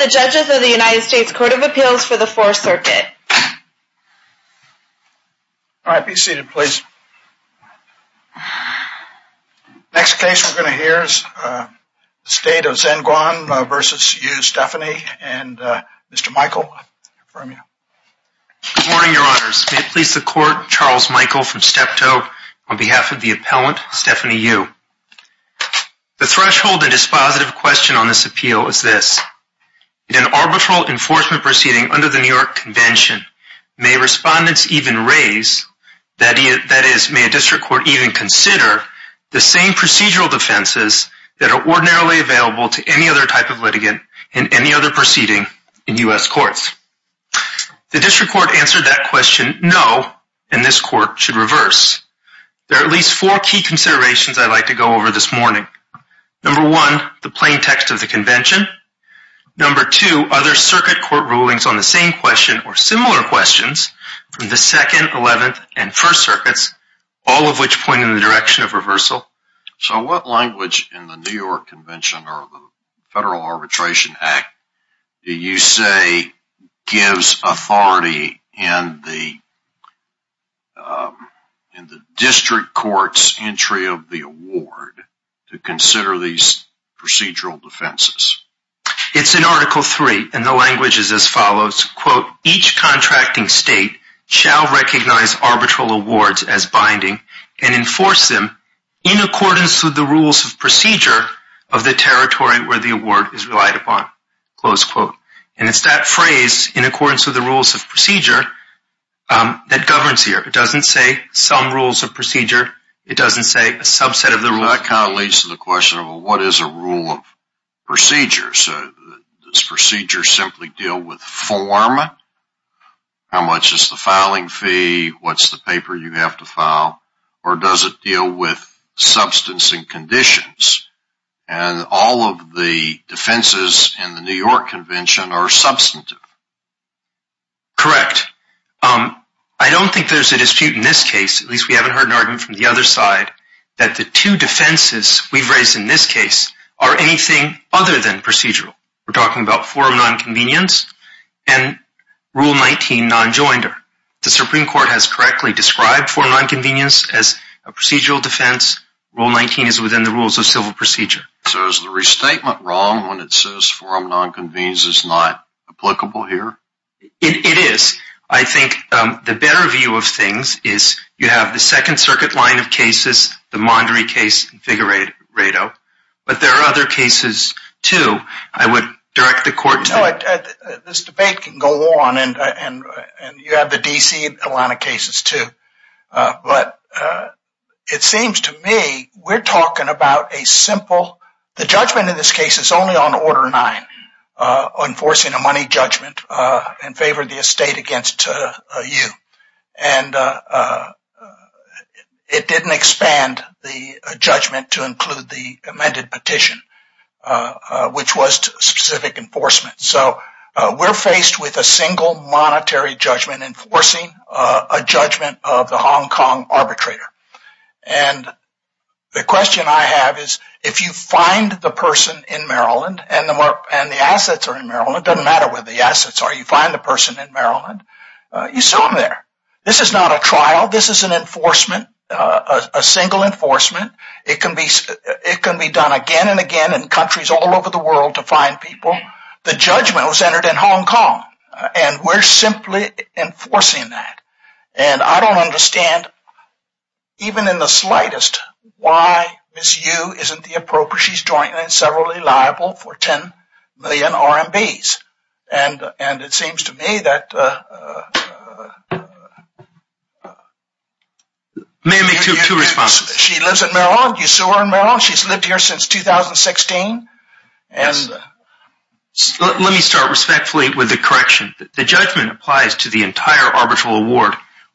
May it please the Court, Charles Michael from Steptoe, on behalf of the appellant, Stephany Yu. The threshold and dispositive question on this appeal is this. In an arbitral enforcement proceeding under the New York Convention, may respondents even raise, that is, may a district court even consider, the same procedural defenses that are ordinarily available to any other type of litigant in any other proceeding in U.S. courts? The district court answered that question, no, and this court should reverse. There are at least four key considerations I'd like to go over this morning. Number one, the plain text of the convention. Number two, other circuit court rulings on the same question or similar questions from the 2nd, 11th, and 1st circuits, all of which point in the direction of reversal. So what language in the New York Convention or the Federal Arbitration Act do you say gives authority in the district court's entry of the award to consider these procedural defenses? It's in Article 3, and the language is as follows, quote, each contracting state shall recognize arbitral awards as binding and enforce them in accordance with the rules of procedure of the territory where the award is relied upon, close quote. And it's that phrase, in accordance with the rules of procedure, that governs here. It doesn't say some rules of procedure. It doesn't say a subset of the rules. So that kind of leads to the question of what is a rule of procedure? So does procedure simply deal with form? How much is the filing fee? What's the paper you have to file? Or does it deal with substance and conditions? And all of the defenses in the New York Convention are substantive. Correct. I don't think there's a dispute in this case, at least we haven't heard an argument from the other side, that the two defenses we've raised in this case are anything other than procedural. We're talking about form nonconvenience and Rule 19 nonjoinder. The Supreme Court has correctly described form nonconvenience as a procedural defense. Rule 19 is within the rules of civil procedure. So is the restatement wrong when it says form nonconvenience is not applicable here? It is. I think the better view of things is you have the Second Circuit line of cases, the Mondry case, and Figueredo. But there are other cases, too. I would direct the court to... Well, this debate can go on and you have the D.C. line of cases, too. But it seems to me we're talking about a simple... The judgment in this case is only on Order 9, enforcing a money judgment in favor of the estate against you. And it didn't expand the judgment to include the amended petition, which was specific enforcement. So we're faced with a single monetary judgment enforcing a judgment of the Hong Kong arbitrator. And the question I have is if you find the person in Maryland and the assets are in Maryland, it doesn't matter where the assets are, you find the person in Maryland, you sue them there. This is not a trial. This is an enforcement, a single enforcement. It can be done again and again in countries all over the world to find people. The judgment was entered in Hong Kong, and we're simply enforcing that. And I don't understand, even in the slightest, why Ms. Yu isn't the appropriate, she's jointly liable for 10 million RMBs. And it seems to me that... May I make two responses? She lives in Maryland. You sue her in Maryland. She's lived here since 2016. Let me start respectfully with a correction. The judgment applies to the entire arbitral award,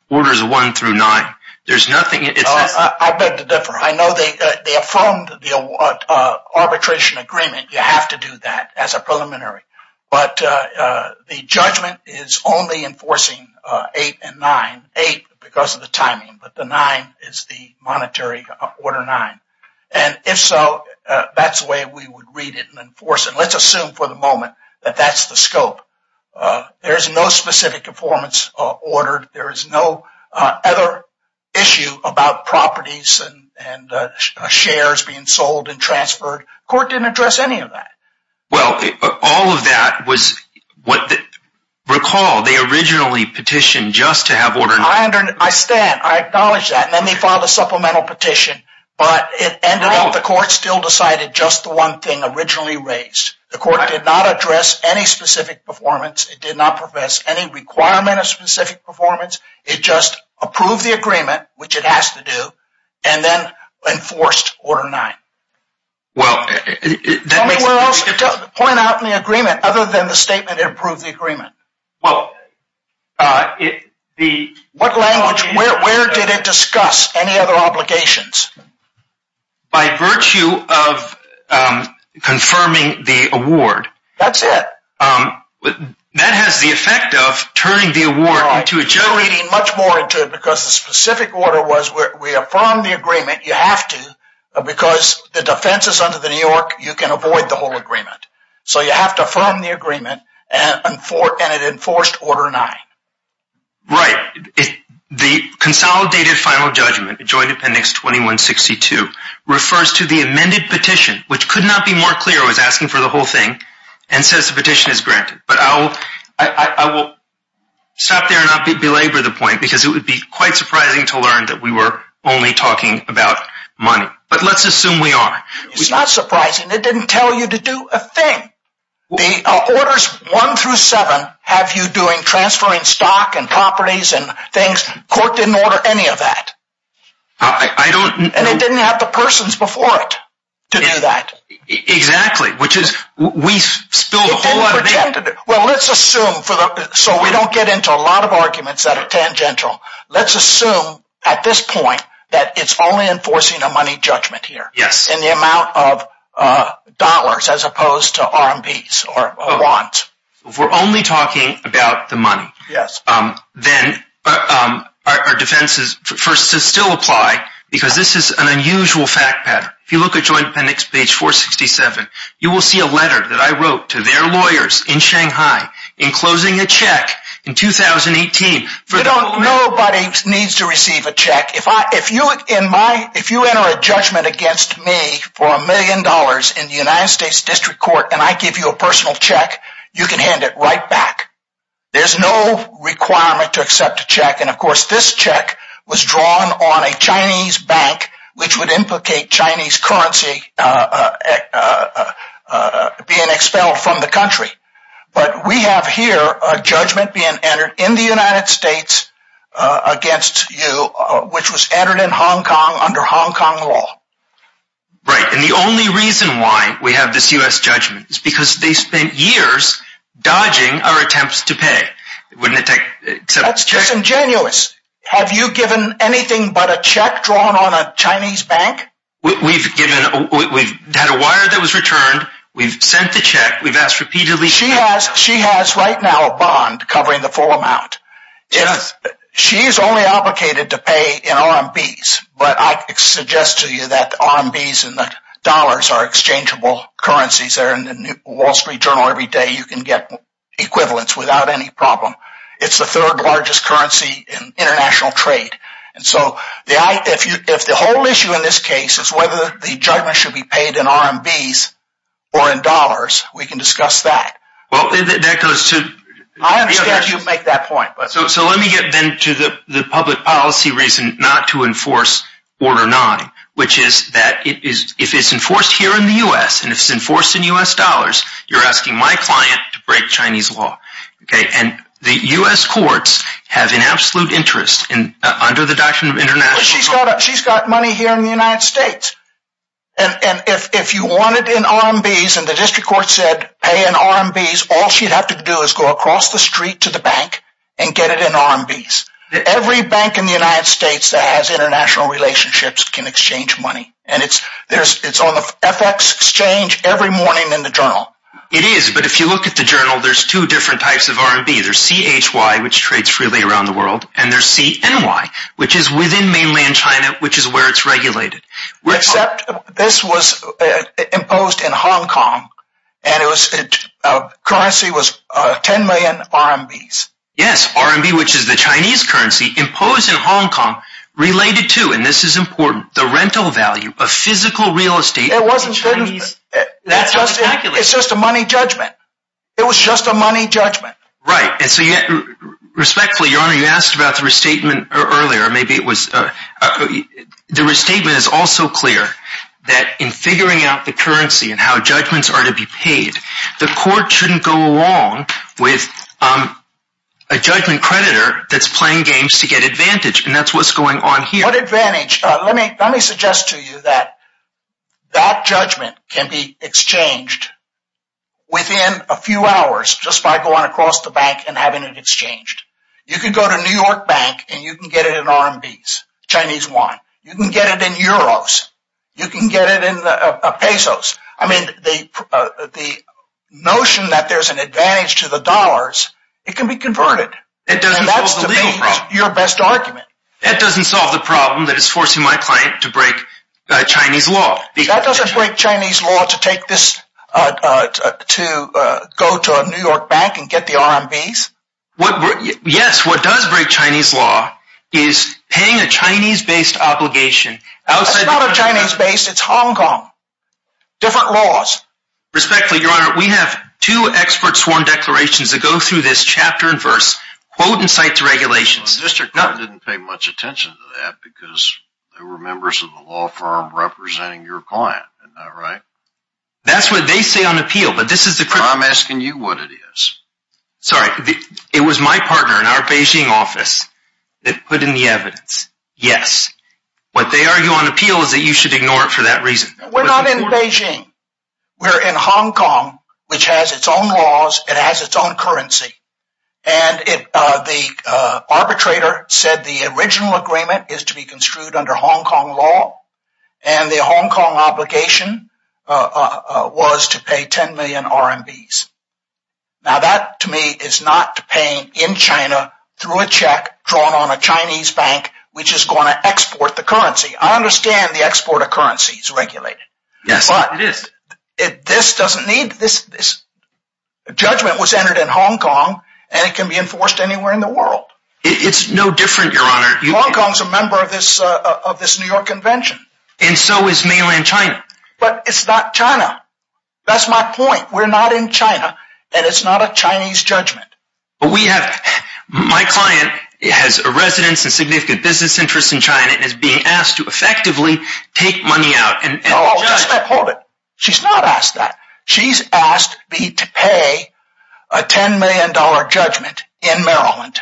Orders 1 through 9. There's nothing... I beg to differ. I know they affirmed the arbitration agreement. You have to do that as a preliminary. But the judgment is only enforcing 8 and 9. 8 because of the timing, but the 9 is the monetary Order 9. And if so, that's the way we would read it and enforce it. Let's assume for the moment that that's the scope. There's no specific informants ordered. There is no other issue about properties and shares being sold and transferred. The court didn't address any of that. Well, all of that was what... Recall, they originally petitioned just to have Order 9. I stand. I acknowledge that. And then they filed a supplemental petition, but it ended up the court still decided just the one thing originally raised. The court did not address any specific performance. It did not profess any requirement of specific performance. It just approved the agreement, which it has to do, and then enforced Order 9. Well, that makes... Tell me where else to point out in the agreement other than the statement it approved the agreement. Well, the... What language? Where did it discuss any other obligations? By virtue of confirming the award. That's it. That has the effect of turning the award into a judgment. I'm reading much more into it because the specific order was we affirm the agreement. You have to because the defense is under the New York. You can avoid the whole agreement. So you have to affirm the agreement and it enforced Order 9. Right. The consolidated final judgment, Joint Appendix 2162, refers to the amended petition, which could not be more clear, was asking for the whole thing and says the petition is granted. But I will stop there and not belabor the point because it would be quite surprising to learn that we were only talking about money. But let's assume we are. It's not surprising. It didn't tell you to do a thing. The Orders 1 through 7 have you doing transferring stock and properties and things. Court didn't order any of that. I don't... And it didn't have the persons before it to do that. Exactly, which is we spilled a whole lot of... Well, let's assume so we don't get into a lot of arguments that are tangential. Let's assume at this point that it's only enforcing a money judgment here. Yes. And the amount of dollars as opposed to RMPs or bonds. We're only talking about the money. Yes. Our defense is for this to still apply because this is an unusual fact pattern. If you look at Joint Appendix page 467, you will see a letter that I wrote to their lawyers in Shanghai in closing a check in 2018. Nobody needs to receive a check. If you enter a judgment against me for a million dollars in the United States District Court and I give you a personal check, you can hand it right back. There's no requirement to accept a check and of course this check was drawn on a Chinese bank which would implicate Chinese currency being expelled from the country. But we have here a judgment being entered in the United States against you which was entered in Hong Kong under Hong Kong law. Right. And the only reason why we have this U.S. judgment is because they spent years dodging our attempts to pay. That's disingenuous. Have you given anything but a check drawn on a Chinese bank? We've had a wire that was returned. We've sent the check. We've asked repeatedly for a check. She has right now a bond covering the full amount. Yes. She's only obligated to pay in RMPs but I suggest to you that RMPs and the dollars are exchangeable currencies. They're in the Wall Street Journal every day. You can get equivalents without any problem. It's the third largest currency in international trade. So if the whole issue in this case is whether the judgment should be paid in RMPs or in dollars, we can discuss that. I understand you make that point. So let me get then to the public policy reason not to enforce Order 9 which is that if it's enforced here in the U.S. and if it's enforced in U.S. dollars, you're asking my client to break Chinese law. The U.S. courts have an absolute interest under the doctrine of international law. She's got money here in the United States. If you want it in RMPs and the district court said pay in RMPs, all she'd have to do is go across the street to the bank and get it in RMPs. Every bank in the United States that has international relationships can exchange money. It's on the FX exchange every morning in the journal. It is, but if you look at the journal, there's two different types of RMB. There's CHY which trades freely around the world and there's CNY which is within mainland China which is where it's regulated. Except this was imposed in Hong Kong and the currency was 10 million RMBs. Yes, RMB which is the Chinese currency imposed in Hong Kong related to, and this is important, the rental value of physical real estate. It's just a money judgment. It was just a money judgment. Right, and so respectfully, your honor, you asked about the restatement earlier. The restatement is also clear that in figuring out the currency and how judgments are to be paid, the court shouldn't go along with a judgment creditor that's playing games to get advantage, and that's what's going on here. Let me suggest to you that that judgment can be exchanged within a few hours just by going across the bank and having it exchanged. You can go to New York Bank and you can get it in RMBs, Chinese Yuan. You can get it in Euros. You can get it in Pesos. I mean, the notion that there's an advantage to the dollars, it can be converted. It doesn't solve the legal problem. And that's your best argument. That doesn't solve the problem that is forcing my client to break Chinese law. That doesn't break Chinese law to go to a New York bank and get the RMBs. Yes, what does break Chinese law is paying a Chinese-based obligation. It's not a Chinese-based, it's Hong Kong. Different laws. Respectfully, your honor, we have two expert sworn declarations that go through this chapter and verse, quote and cite the regulations. The district court didn't pay much attention to that because they were members of the law firm representing your client. Isn't that right? That's what they say on appeal. I'm asking you what it is. Sorry, it was my partner in our Beijing office that put in the evidence. Yes, what they argue on appeal is that you should ignore it for that reason. We're not in Beijing. We're in Hong Kong, which has its own laws. It has its own currency. The arbitrator said the original agreement is to be construed under Hong Kong law. The Hong Kong obligation was to pay 10 million RMBs. That, to me, is not paying in China through a check drawn on a Chinese bank, which is going to export the currency. I understand the export of currency is regulated. Yes, it is. This judgment was entered in Hong Kong, and it can be enforced anywhere in the world. It's no different, Your Honor. Hong Kong is a member of this New York Convention. And so is mainland China. But it's not China. That's my point. We're not in China, and it's not a Chinese judgment. My client has a residence and significant business interest in China and is being asked to effectively take money out. Hold it. She's not asked that. She's asked me to pay a $10 million judgment in Maryland.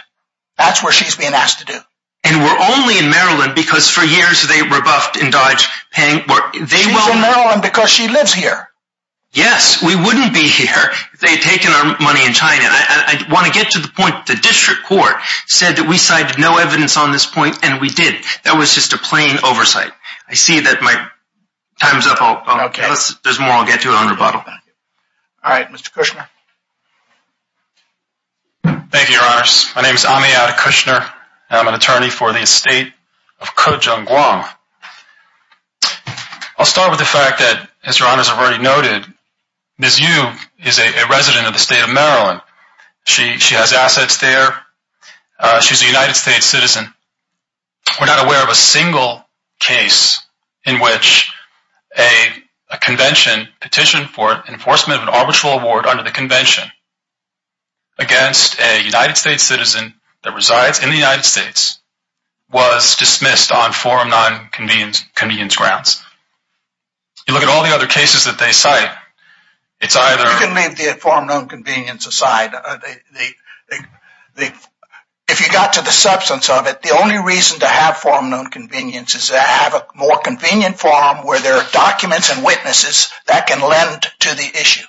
That's what she's being asked to do. And we're only in Maryland because for years they rebuffed and dodged paying. She's in Maryland because she lives here. Yes, we wouldn't be here if they had taken our money in China. I want to get to the point. The district court said that we cited no evidence on this point, and we did. That was just a plain oversight. I see that my time is up. There's more I'll get to on rebuttal. All right. Mr. Kushner. Thank you, Your Honors. My name is Amiata Kushner, and I'm an attorney for the estate of Ko Jung Gwang. I'll start with the fact that, as Your Honors have already noted, Ms. Yu is a resident of the state of Maryland. She has assets there. She's a United States citizen. We're not aware of a single case in which a convention petitioned for enforcement of an arbitral award under the convention against a United States citizen that resides in the United States was dismissed on forum nonconvenience grounds. You look at all the other cases that they cite, it's either – You can leave the forum nonconvenience aside. If you got to the substance of it, the only reason to have forum nonconvenience is to have a more convenient forum where there are documents and witnesses that can lend to the issue.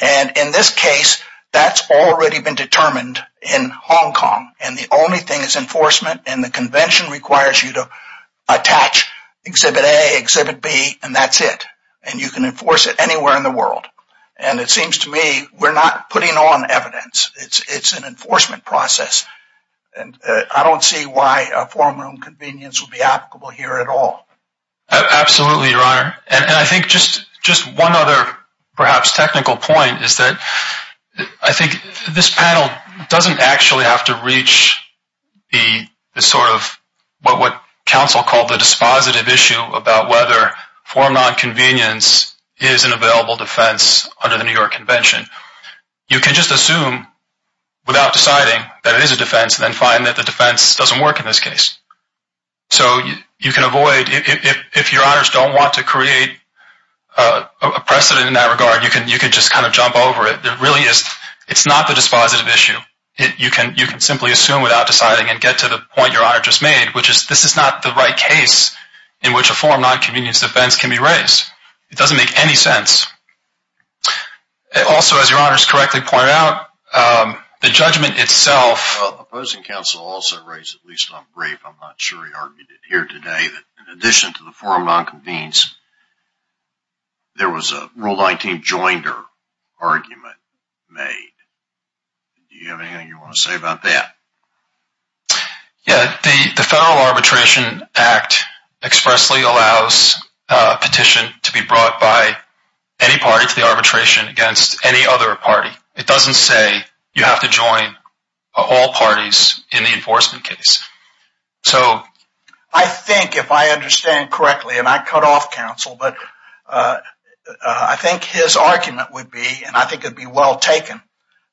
And in this case, that's already been determined in Hong Kong. And the only thing is enforcement, and the convention requires you to attach Exhibit A, Exhibit B, and that's it. And it seems to me we're not putting on evidence. It's an enforcement process. And I don't see why a forum nonconvenience would be applicable here at all. Absolutely, Your Honor. And I think just one other perhaps technical point is that I think this panel doesn't actually have to reach the sort of what counsel called the dispositive issue about whether forum nonconvenience is an available defense under the New York Convention. You can just assume without deciding that it is a defense and then find that the defense doesn't work in this case. So you can avoid – if Your Honors don't want to create a precedent in that regard, you can just kind of jump over it. It really is – it's not the dispositive issue. You can simply assume without deciding and get to the point Your Honor just made, which is this is not the right case in which a forum nonconvenience defense can be raised. It doesn't make any sense. Also, as Your Honors correctly pointed out, the judgment itself – Well, the opposing counsel also raised, at least I'm brief, I'm not sure he argued it here today, that in addition to the forum nonconvenience, there was a Rule 19 joinder argument made. Do you have anything you want to say about that? Yeah, the Federal Arbitration Act expressly allows petition to be brought by any party to the arbitration against any other party. It doesn't say you have to join all parties in the enforcement case. So I think if I understand correctly, and I cut off counsel, but I think his argument would be, and I think it would be well taken,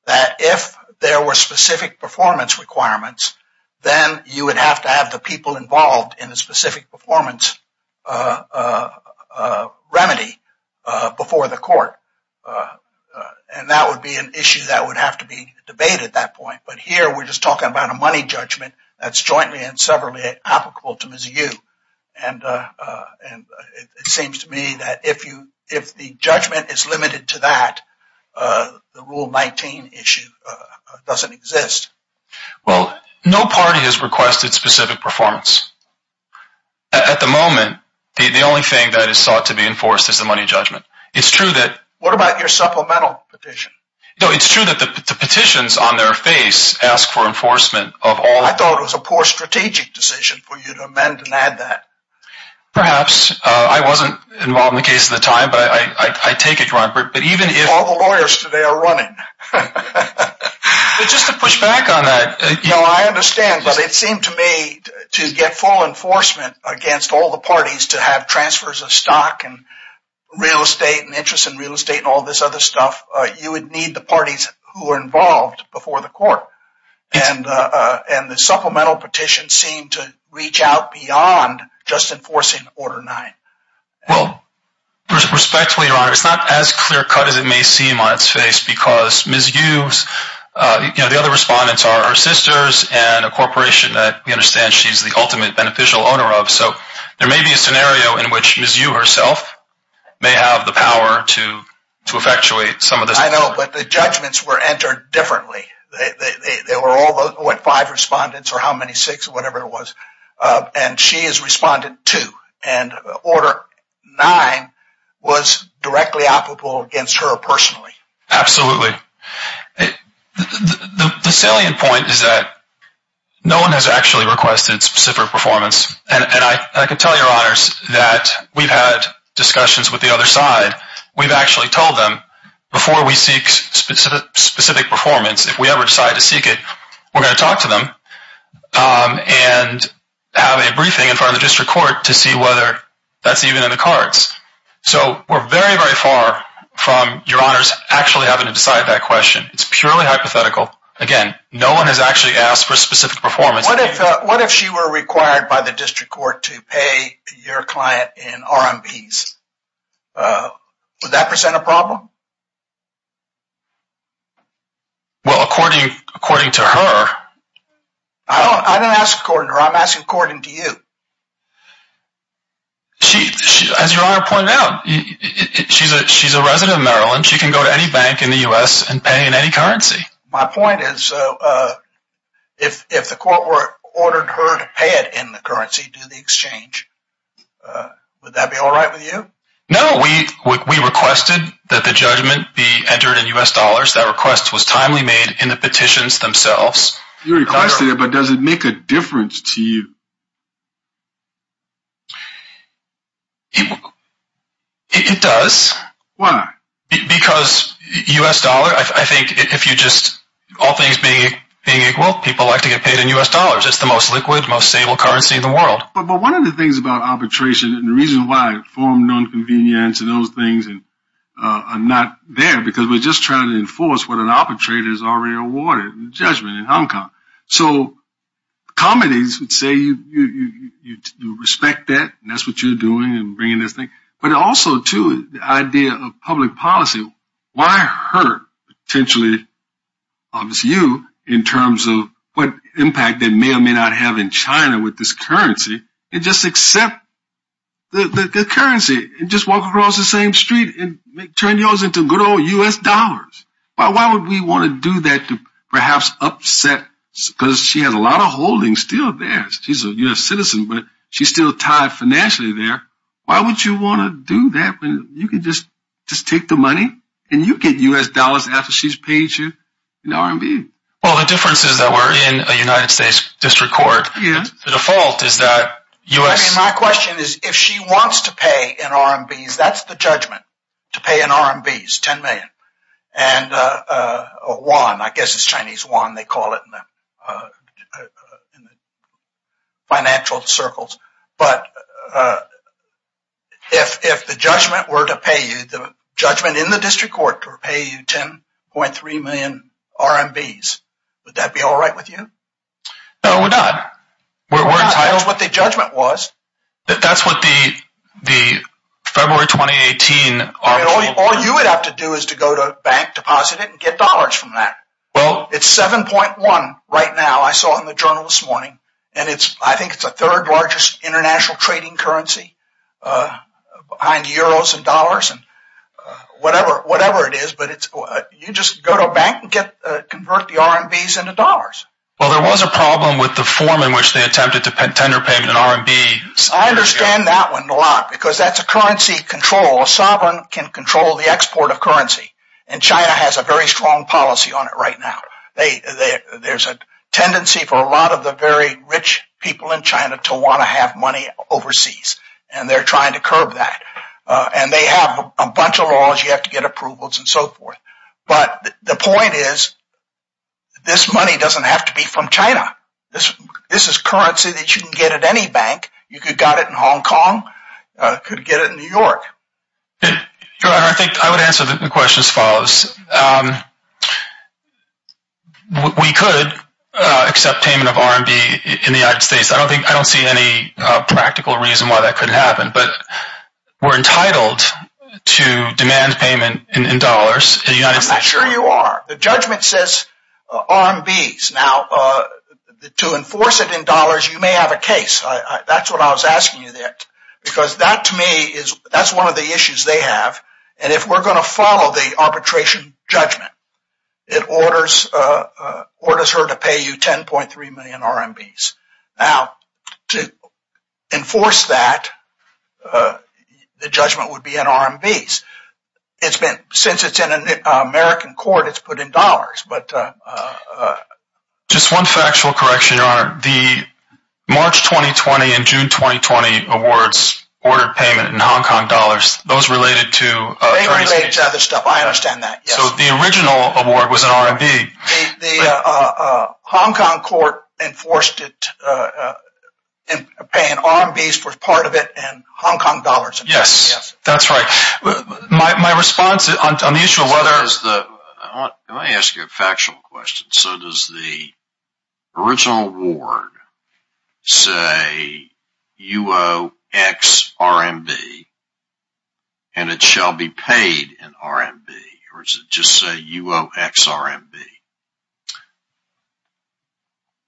that if there were specific performance requirements, then you would have to have the people involved in the specific performance remedy before the court. And that would be an issue that would have to be debated at that point. But here we're just talking about a money judgment that's jointly and severally applicable to Mizzou. And it seems to me that if the judgment is limited to that, the Rule 19 issue doesn't exist. Well, no party has requested specific performance. At the moment, the only thing that is sought to be enforced is the money judgment. It's true that – What about your supplemental petition? No, it's true that the petitions on their face ask for enforcement of all – I thought it was a poor strategic decision for you to amend and add that. Perhaps. I wasn't involved in the case at the time, but I take it, Your Honor. But even if – All the lawyers today are running. But just to push back on that – No, I understand. But it seemed to me to get full enforcement against all the parties to have transfers of stock and real estate and interest in real estate and all this other stuff, you would need the parties who are involved before the court. And the supplemental petition seemed to reach out beyond just enforcing Order 9. Well, respectfully, Your Honor, it's not as clear-cut as it may seem on its face because Ms. Hughes – the other respondents are her sisters and a corporation that we understand she's the ultimate beneficial owner of. So there may be a scenario in which Ms. Hugh herself may have the power to effectuate some of this. I know, but the judgments were entered differently. They were all, what, five respondents or how many, six, whatever it was. And she is Respondent 2. And Order 9 was directly applicable against her personally. Absolutely. The salient point is that no one has actually requested specific performance. And I can tell Your Honors that we've had discussions with the other side. We've actually told them before we seek specific performance, if we ever decide to seek it, we're going to talk to them and have a briefing in front of the district court to see whether that's even in the cards. So we're very, very far from Your Honors actually having to decide that question. It's purely hypothetical. Again, no one has actually asked for specific performance. What if she were required by the district court to pay your client in RMPs? Would that present a problem? Well, according to her – I didn't ask according to her. I'm asking according to you. As Your Honor pointed out, she's a resident of Maryland. She can go to any bank in the U.S. and pay in any currency. My point is, if the court ordered her to pay it in the currency through the exchange, would that be all right with you? No, we requested that the judgment be entered in U.S. dollars. That request was timely made in the petitions themselves. You requested it, but does it make a difference to you? It does. Why? Because U.S. dollar – I think if you just – all things being equal, people like to get paid in U.S. dollars. It's the most liquid, most stable currency in the world. But one of the things about arbitration and the reason why it formed nonconvenience and those things are not there, because we're just trying to enforce what an arbitrator has already awarded in the judgment in Hong Kong. So comedies would say you respect that and that's what you're doing and bringing this thing. But also, too, the idea of public policy. Why hurt potentially, obviously you, in terms of what impact that may or may not have in China with this currency, and just accept the currency and just walk across the same street and turn yours into good old U.S. dollars? Why would we want to do that to perhaps upset – because she has a lot of holdings still there. She's a U.S. citizen, but she's still tied financially there. Why would you want to do that when you can just take the money and you get U.S. dollars after she's paid you in the RMB? Well, the difference is that we're in a United States district court. The default is that U.S. I mean, my question is if she wants to pay in RMBs, that's the judgment, to pay in RMBs, 10 million, and a yuan, I guess it's Chinese yuan, they call it in the financial circles. But if the judgment were to pay you, the judgment in the district court were to pay you 10.3 million RMBs, would that be all right with you? No, we're not. We're entitled to what the judgment was. That's what the February 2018 arbitral – All you would have to do is to go to a bank, deposit it, and get dollars from that. Well – It's 7.1 right now. I saw it in the journal this morning. And I think it's the third largest international trading currency behind euros and dollars and whatever it is. But you just go to a bank and convert the RMBs into dollars. Well, there was a problem with the form in which they attempted to tender payment in RMB. I understand that one a lot because that's a currency control. A sovereign can control the export of currency. And China has a very strong policy on it right now. There's a tendency for a lot of the very rich people in China to want to have money overseas. And they're trying to curb that. And they have a bunch of laws. You have to get approvals and so forth. But the point is this money doesn't have to be from China. This is currency that you can get at any bank. You could get it in Hong Kong. You could get it in New York. I would answer the question as follows. We could accept payment of RMB in the United States. I don't see any practical reason why that couldn't happen. But we're entitled to demand payment in dollars in the United States. I'm not sure you are. The judgment says RMBs. Now, to enforce it in dollars, you may have a case. That's what I was asking you there. Because that to me is one of the issues they have. And if we're going to follow the arbitration judgment, it orders her to pay you 10.3 million RMBs. Now, to enforce that, the judgment would be in RMBs. Since it's in an American court, it's put in dollars. Just one factual correction, Your Honor. The March 2020 and June 2020 awards ordered payment in Hong Kong dollars. Those related to... They relate to other stuff. I understand that. So the original award was in RMB. The Hong Kong court enforced it, paying RMBs for part of it in Hong Kong dollars. Yes, that's right. My response on the issue of whether... Let me ask you a factual question. So does the original award say UOXRMB and it shall be paid in RMB? Or does it just say UOXRMB?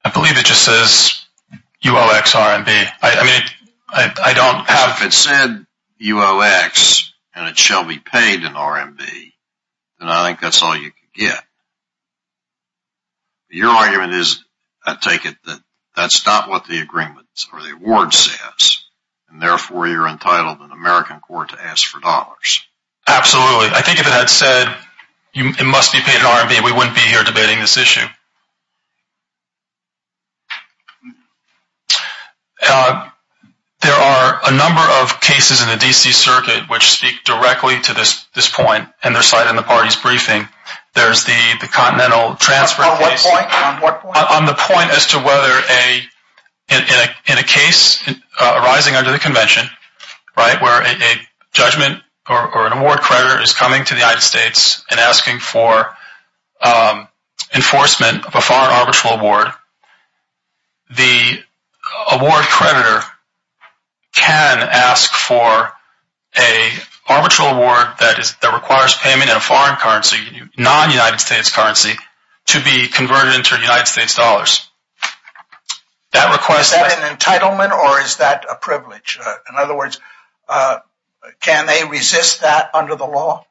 I believe it just says UOXRMB. I mean, I don't have... and it shall be paid in RMB, and I think that's all you can get. Your argument is, I take it, that that's not what the agreement or the award says, and therefore you're entitled in American court to ask for dollars. Absolutely. I think if it had said it must be paid in RMB, we wouldn't be here debating this issue. There are a number of cases in the D.C. circuit which speak directly to this point, and they're cited in the party's briefing. There's the Continental Transfer case. On what point? On the point as to whether in a case arising under the convention, where a judgment or an award creditor is coming to the United States and asking for enforcement of a foreign arbitral award, the award creditor can ask for an arbitral award that requires payment in a foreign currency, non-United States currency, to be converted into United States dollars. Is that an entitlement or is that a privilege? In other words, can they resist that under the law?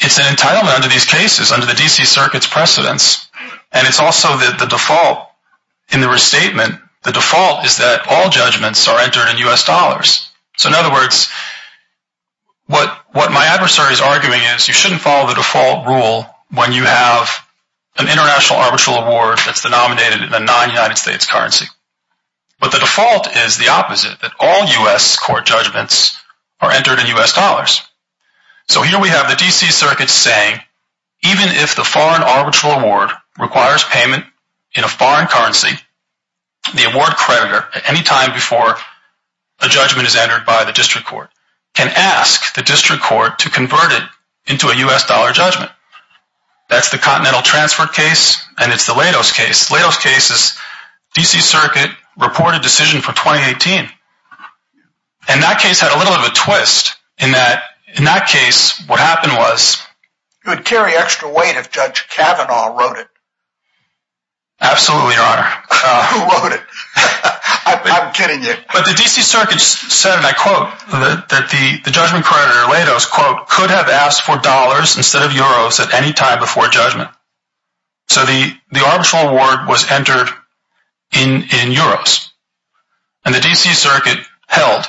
It's an entitlement under these cases, under the D.C. circuit's precedence, and it's also the default in the restatement. The default is that all judgments are entered in U.S. dollars. So in other words, what my adversary is arguing is, you shouldn't follow the default rule when you have an international arbitral award that's denominated in a non-United States currency. But the default is the opposite, that all U.S. court judgments are entered in U.S. dollars. So here we have the D.C. circuit saying, even if the foreign arbitral award requires payment in a foreign currency, the award creditor, at any time before a judgment is entered by the district court, can ask the district court to convert it into a U.S. dollar judgment. That's the Continental Transfer case and it's the LATOS case. LATOS case is D.C. circuit reported decision for 2018. And that case had a little of a twist in that, in that case, what happened was... You would carry extra weight if Judge Kavanaugh wrote it. Absolutely, Your Honor. Who wrote it? I'm kidding you. But the D.C. circuit said, and I quote, that the judgment creditor, LATOS, quote, could have asked for dollars instead of euros at any time before a judgment. So the arbitral award was entered in euros. And the D.C. circuit held,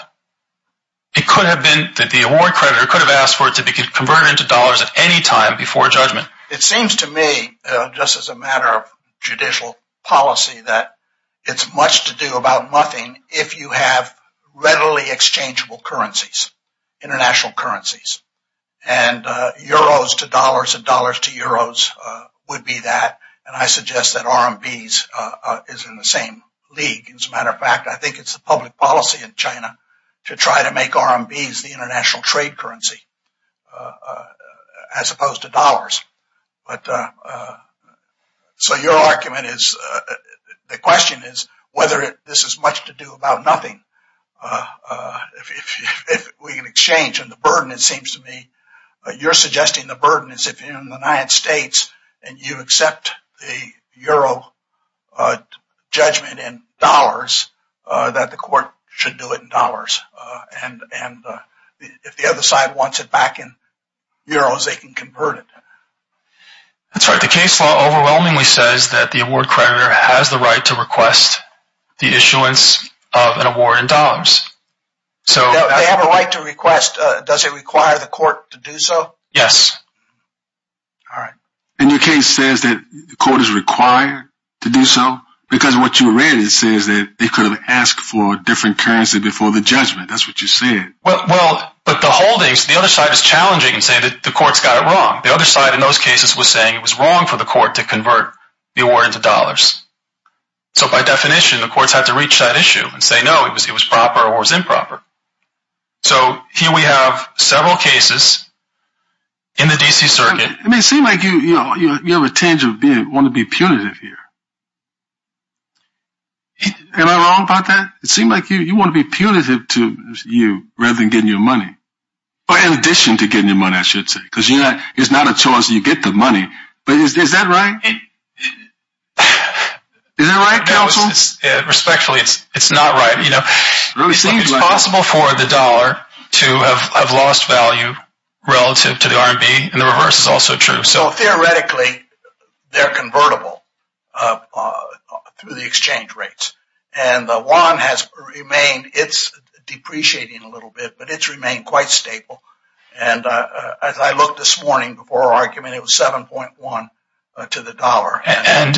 it could have been that the award creditor could have asked for it to be converted into dollars at any time before a judgment. It seems to me, just as a matter of judicial policy, that it's much to do about nothing if you have readily exchangeable currencies, international currencies. And euros to dollars and dollars to euros would be that. And I suggest that RMBs is in the same league. As a matter of fact, I think it's the public policy in China to try to make RMBs the international trade currency as opposed to dollars. But, so your argument is, the question is whether this is much to do about nothing if we can exchange. And the burden, it seems to me, you're suggesting the burden is if you're in the United States and you accept the euro judgment in dollars, that the court should do it in dollars. And if the other side wants it back in euros, they can convert it. That's right. The case law overwhelmingly says that the award creditor has the right to request the issuance of an award in dollars. They have a right to request. Does it require the court to do so? Yes. All right. And your case says that the court is required to do so because what you read, it says that they could have asked for a different currency before the judgment. That's what you said. Well, but the holdings, the other side is challenging and saying that the court's got it wrong. The other side in those cases was saying it was wrong for the court to convert the award into dollars. So by definition, the courts have to reach that issue and say, no, it was proper or it was improper. So here we have several cases in the D.C. circuit. I mean, it seems like you have a tinge of wanting to be punitive here. Am I wrong about that? It seems like you want to be punitive to you rather than getting your money, or in addition to getting your money, I should say, because it's not a choice. You get the money. But is that right? Is that right, counsel? Respectfully, it's not right. You know, it seems possible for the dollar to have lost value relative to the RMB, and the reverse is also true. So theoretically, they're convertible through the exchange rates. And the yuan has remained. It's depreciating a little bit, but it's remained quite stable. And as I looked this morning before our argument, it was 7.1 to the dollar. And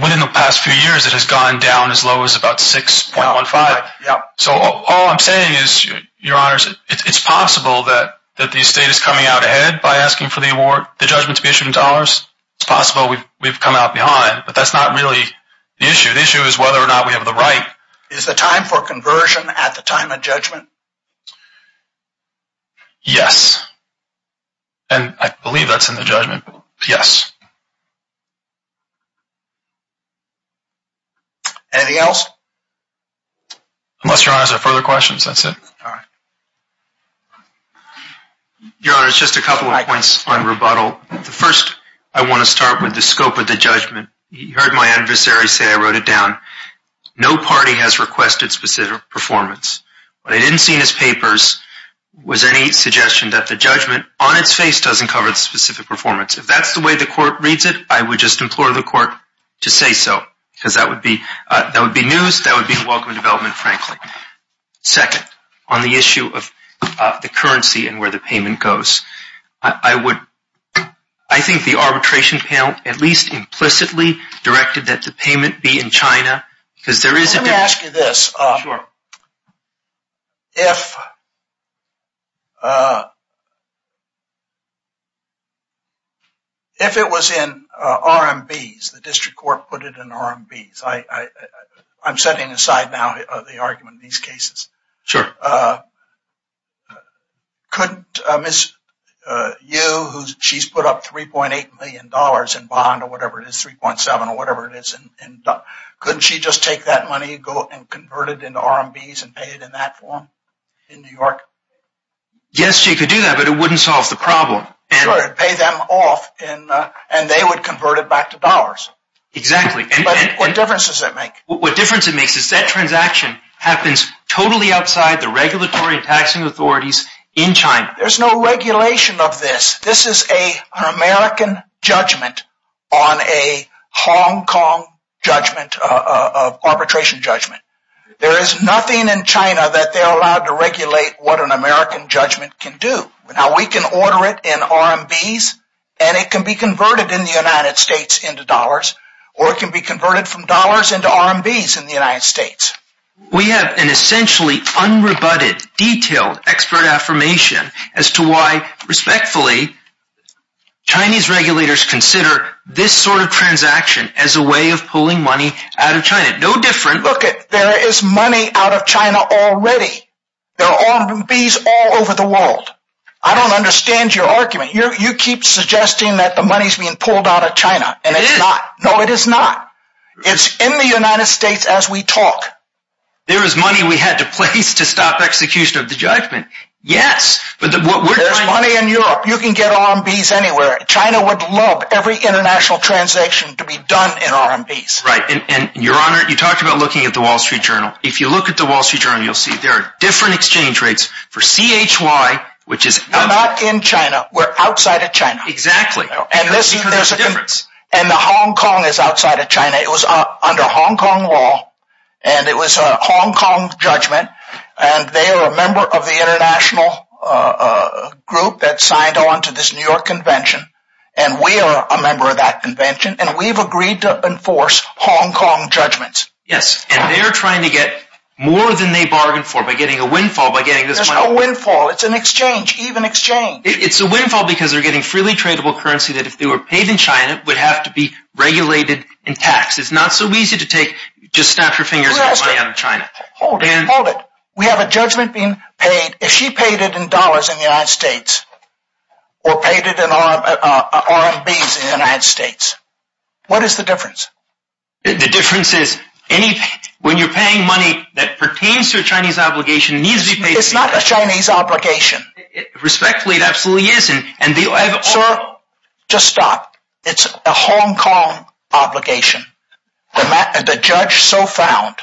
within the past few years, it has gone down as low as about 6.15. So all I'm saying is, Your Honors, it's possible that the estate is coming out ahead by asking for the award, the judgment to be issued in dollars. It's possible we've come out behind, but that's not really the issue. The issue is whether or not we have the right. Is the time for conversion at the time of judgment? Yes. And I believe that's in the judgment. Yes. Anything else? Unless Your Honors have further questions, that's it. All right. Your Honors, just a couple of points on rebuttal. First, I want to start with the scope of the judgment. You heard my adversary say I wrote it down. No party has requested specific performance. What I didn't see in his papers was any suggestion that the judgment on its face doesn't cover the specific performance. If that's the way the Court reads it, I would just implore the Court to say so, because that would be news. That would be a welcome development, frankly. Second, on the issue of the currency and where the payment goes, I think the arbitration panel at least implicitly directed that the payment be in China, because there is a difference. Let me ask you this. Sure. If it was in RMBs, the district court put it in RMBs, I'm setting aside now the argument in these cases. Sure. Couldn't Ms. Yu, who she's put up $3.8 million in bond or whatever it is, 3.7 or whatever it is, couldn't she just take that money and convert it into RMBs and pay it in that form in New York? Yes, she could do that, but it wouldn't solve the problem. Sure, it would pay them off, and they would convert it back to dollars. Exactly. But what difference does that make? What difference it makes is that transaction happens totally outside the regulatory and taxing authorities in China. There's no regulation of this. This is an American judgment on a Hong Kong arbitration judgment. There is nothing in China that they're allowed to regulate what an American judgment can do. Now, we can order it in RMBs, and it can be converted in the United States into dollars, or it can be converted from dollars into RMBs in the United States. We have an essentially unrebutted, detailed, expert affirmation as to why, respectfully, Chinese regulators consider this sort of transaction as a way of pulling money out of China. No different. Look, there is money out of China already. There are RMBs all over the world. I don't understand your argument. You keep suggesting that the money's being pulled out of China, and it's not. No, it is not. It's in the United States as we talk. There is money we had to place to stop execution of the judgment. Yes. There's money in Europe. You can get RMBs anywhere. China would love every international transaction to be done in RMBs. Right. And, Your Honor, you talked about looking at the Wall Street Journal. If you look at the Wall Street Journal, you'll see there are different exchange rates for CHY, which is... We're not in China. We're outside of China. Exactly. And that's because there's a difference. And the Hong Kong is outside of China. It was under Hong Kong law, and it was a Hong Kong judgment. And they are a member of the international group that signed on to this New York convention. And we are a member of that convention, and we've agreed to enforce Hong Kong judgments. Yes. And they're trying to get more than they bargained for by getting a windfall by getting this money. There's no windfall. It's an exchange. Even exchange. It's a windfall because they're getting freely tradable currency that, if they were paid in China, would have to be regulated in tax. It's not so easy to just snap your fingers and get money out of China. Hold it. Hold it. We have a judgment being paid. If she paid it in dollars in the United States, or paid it in RMBs in the United States, what is the difference? The difference is, when you're paying money that pertains to a Chinese obligation, it needs to be paid... It's not a Chinese obligation. Respectfully, it absolutely isn't. Sir, just stop. It's a Hong Kong obligation. The judge so found,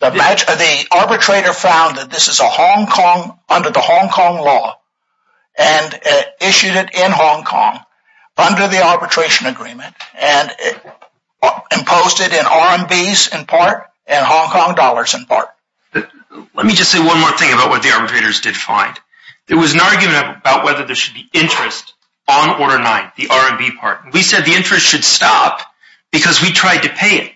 the arbitrator found that this is under the Hong Kong law, and issued it in Hong Kong under the arbitration agreement, and imposed it in RMBs in part, and Hong Kong dollars in part. Let me just say one more thing about what the arbitrators did find. There was an argument about whether there should be interest on Order 9, the RMB part. We said the interest should stop because we tried to pay it.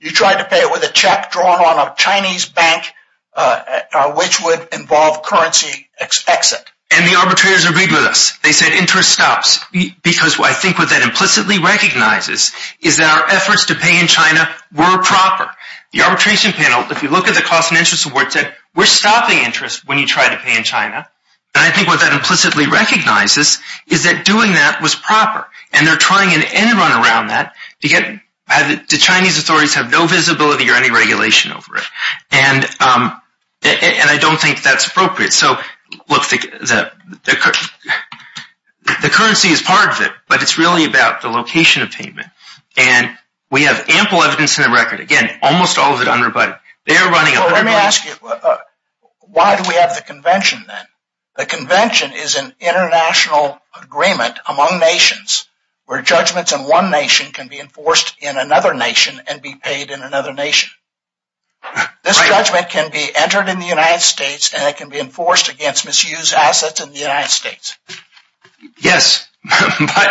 You tried to pay it with a check drawn on a Chinese bank, which would involve currency exit. And the arbitrators agreed with us. They said interest stops, because I think what that implicitly recognizes is that our efforts to pay in China were proper. The arbitration panel, if you look at the Cost and Interest Award, said we're stopping interest when you try to pay in China. And I think what that implicitly recognizes is that doing that was proper. And they're trying in the end run around that to get... The Chinese authorities have no visibility or any regulation over it. And I don't think that's appropriate. So, look, the currency is part of it, but it's really about the location of payment. And we have ample evidence in the record. Again, almost all of it unrebutted. Let me ask you, why do we have the convention then? The convention is an international agreement among nations where judgments in one nation can be enforced in another nation and be paid in another nation. This judgment can be entered in the United States and it can be enforced against misused assets in the United States. Yes, but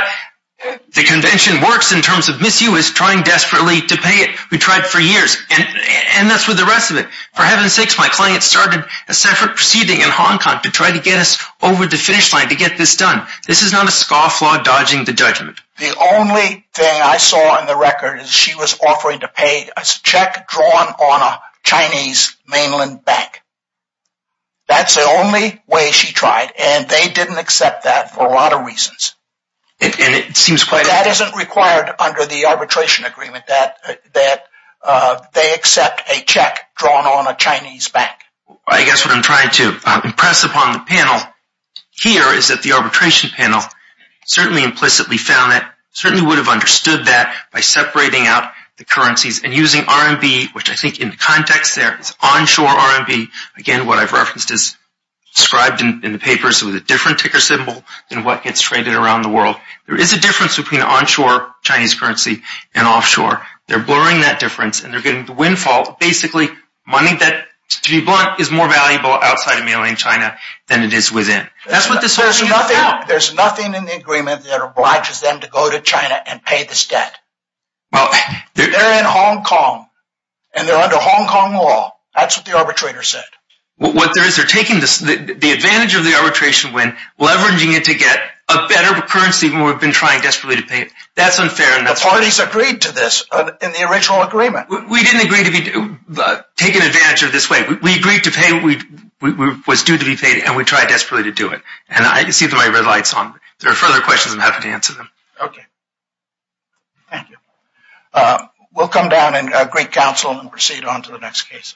the convention works in terms of misuse, trying desperately to pay it. We tried for years, and that's with the rest of it. For heaven's sakes, my client started a separate proceeding in Hong Kong to try to get us over the finish line to get this done. This is not a scofflaw dodging the judgment. The only thing I saw in the record is she was offering to pay a check drawn on a Chinese mainland bank. That's the only way she tried, and they didn't accept that for a lot of reasons. That isn't required under the arbitration agreement, that they accept a check drawn on a Chinese bank. I guess what I'm trying to impress upon the panel here is that the arbitration panel certainly implicitly found it, certainly would have understood that by separating out the currencies and using RMB, which I think in context there is onshore RMB. Again, what I've referenced is described in the papers with a different ticker symbol than what gets traded around the world. There is a difference between onshore Chinese currency and offshore. They're blurring that difference, and they're getting the windfall. Basically, money that, to be blunt, is more valuable outside of mainland China than it is within. There's nothing in the agreement that obliges them to go to China and pay this debt. They're in Hong Kong, and they're under Hong Kong law. That's what the arbitrator said. What there is, they're taking the advantage of the arbitration win, leveraging it to get a better currency, when we've been trying desperately to pay it. That's unfair. The parties agreed to this in the original agreement. We didn't agree to be taken advantage of this way. We agreed to pay what was due to be paid, and we tried desperately to do it. I can see my red lights on. If there are further questions, I'm happy to answer them. Okay. Thank you. We'll come down and greet counsel and proceed on to the next case.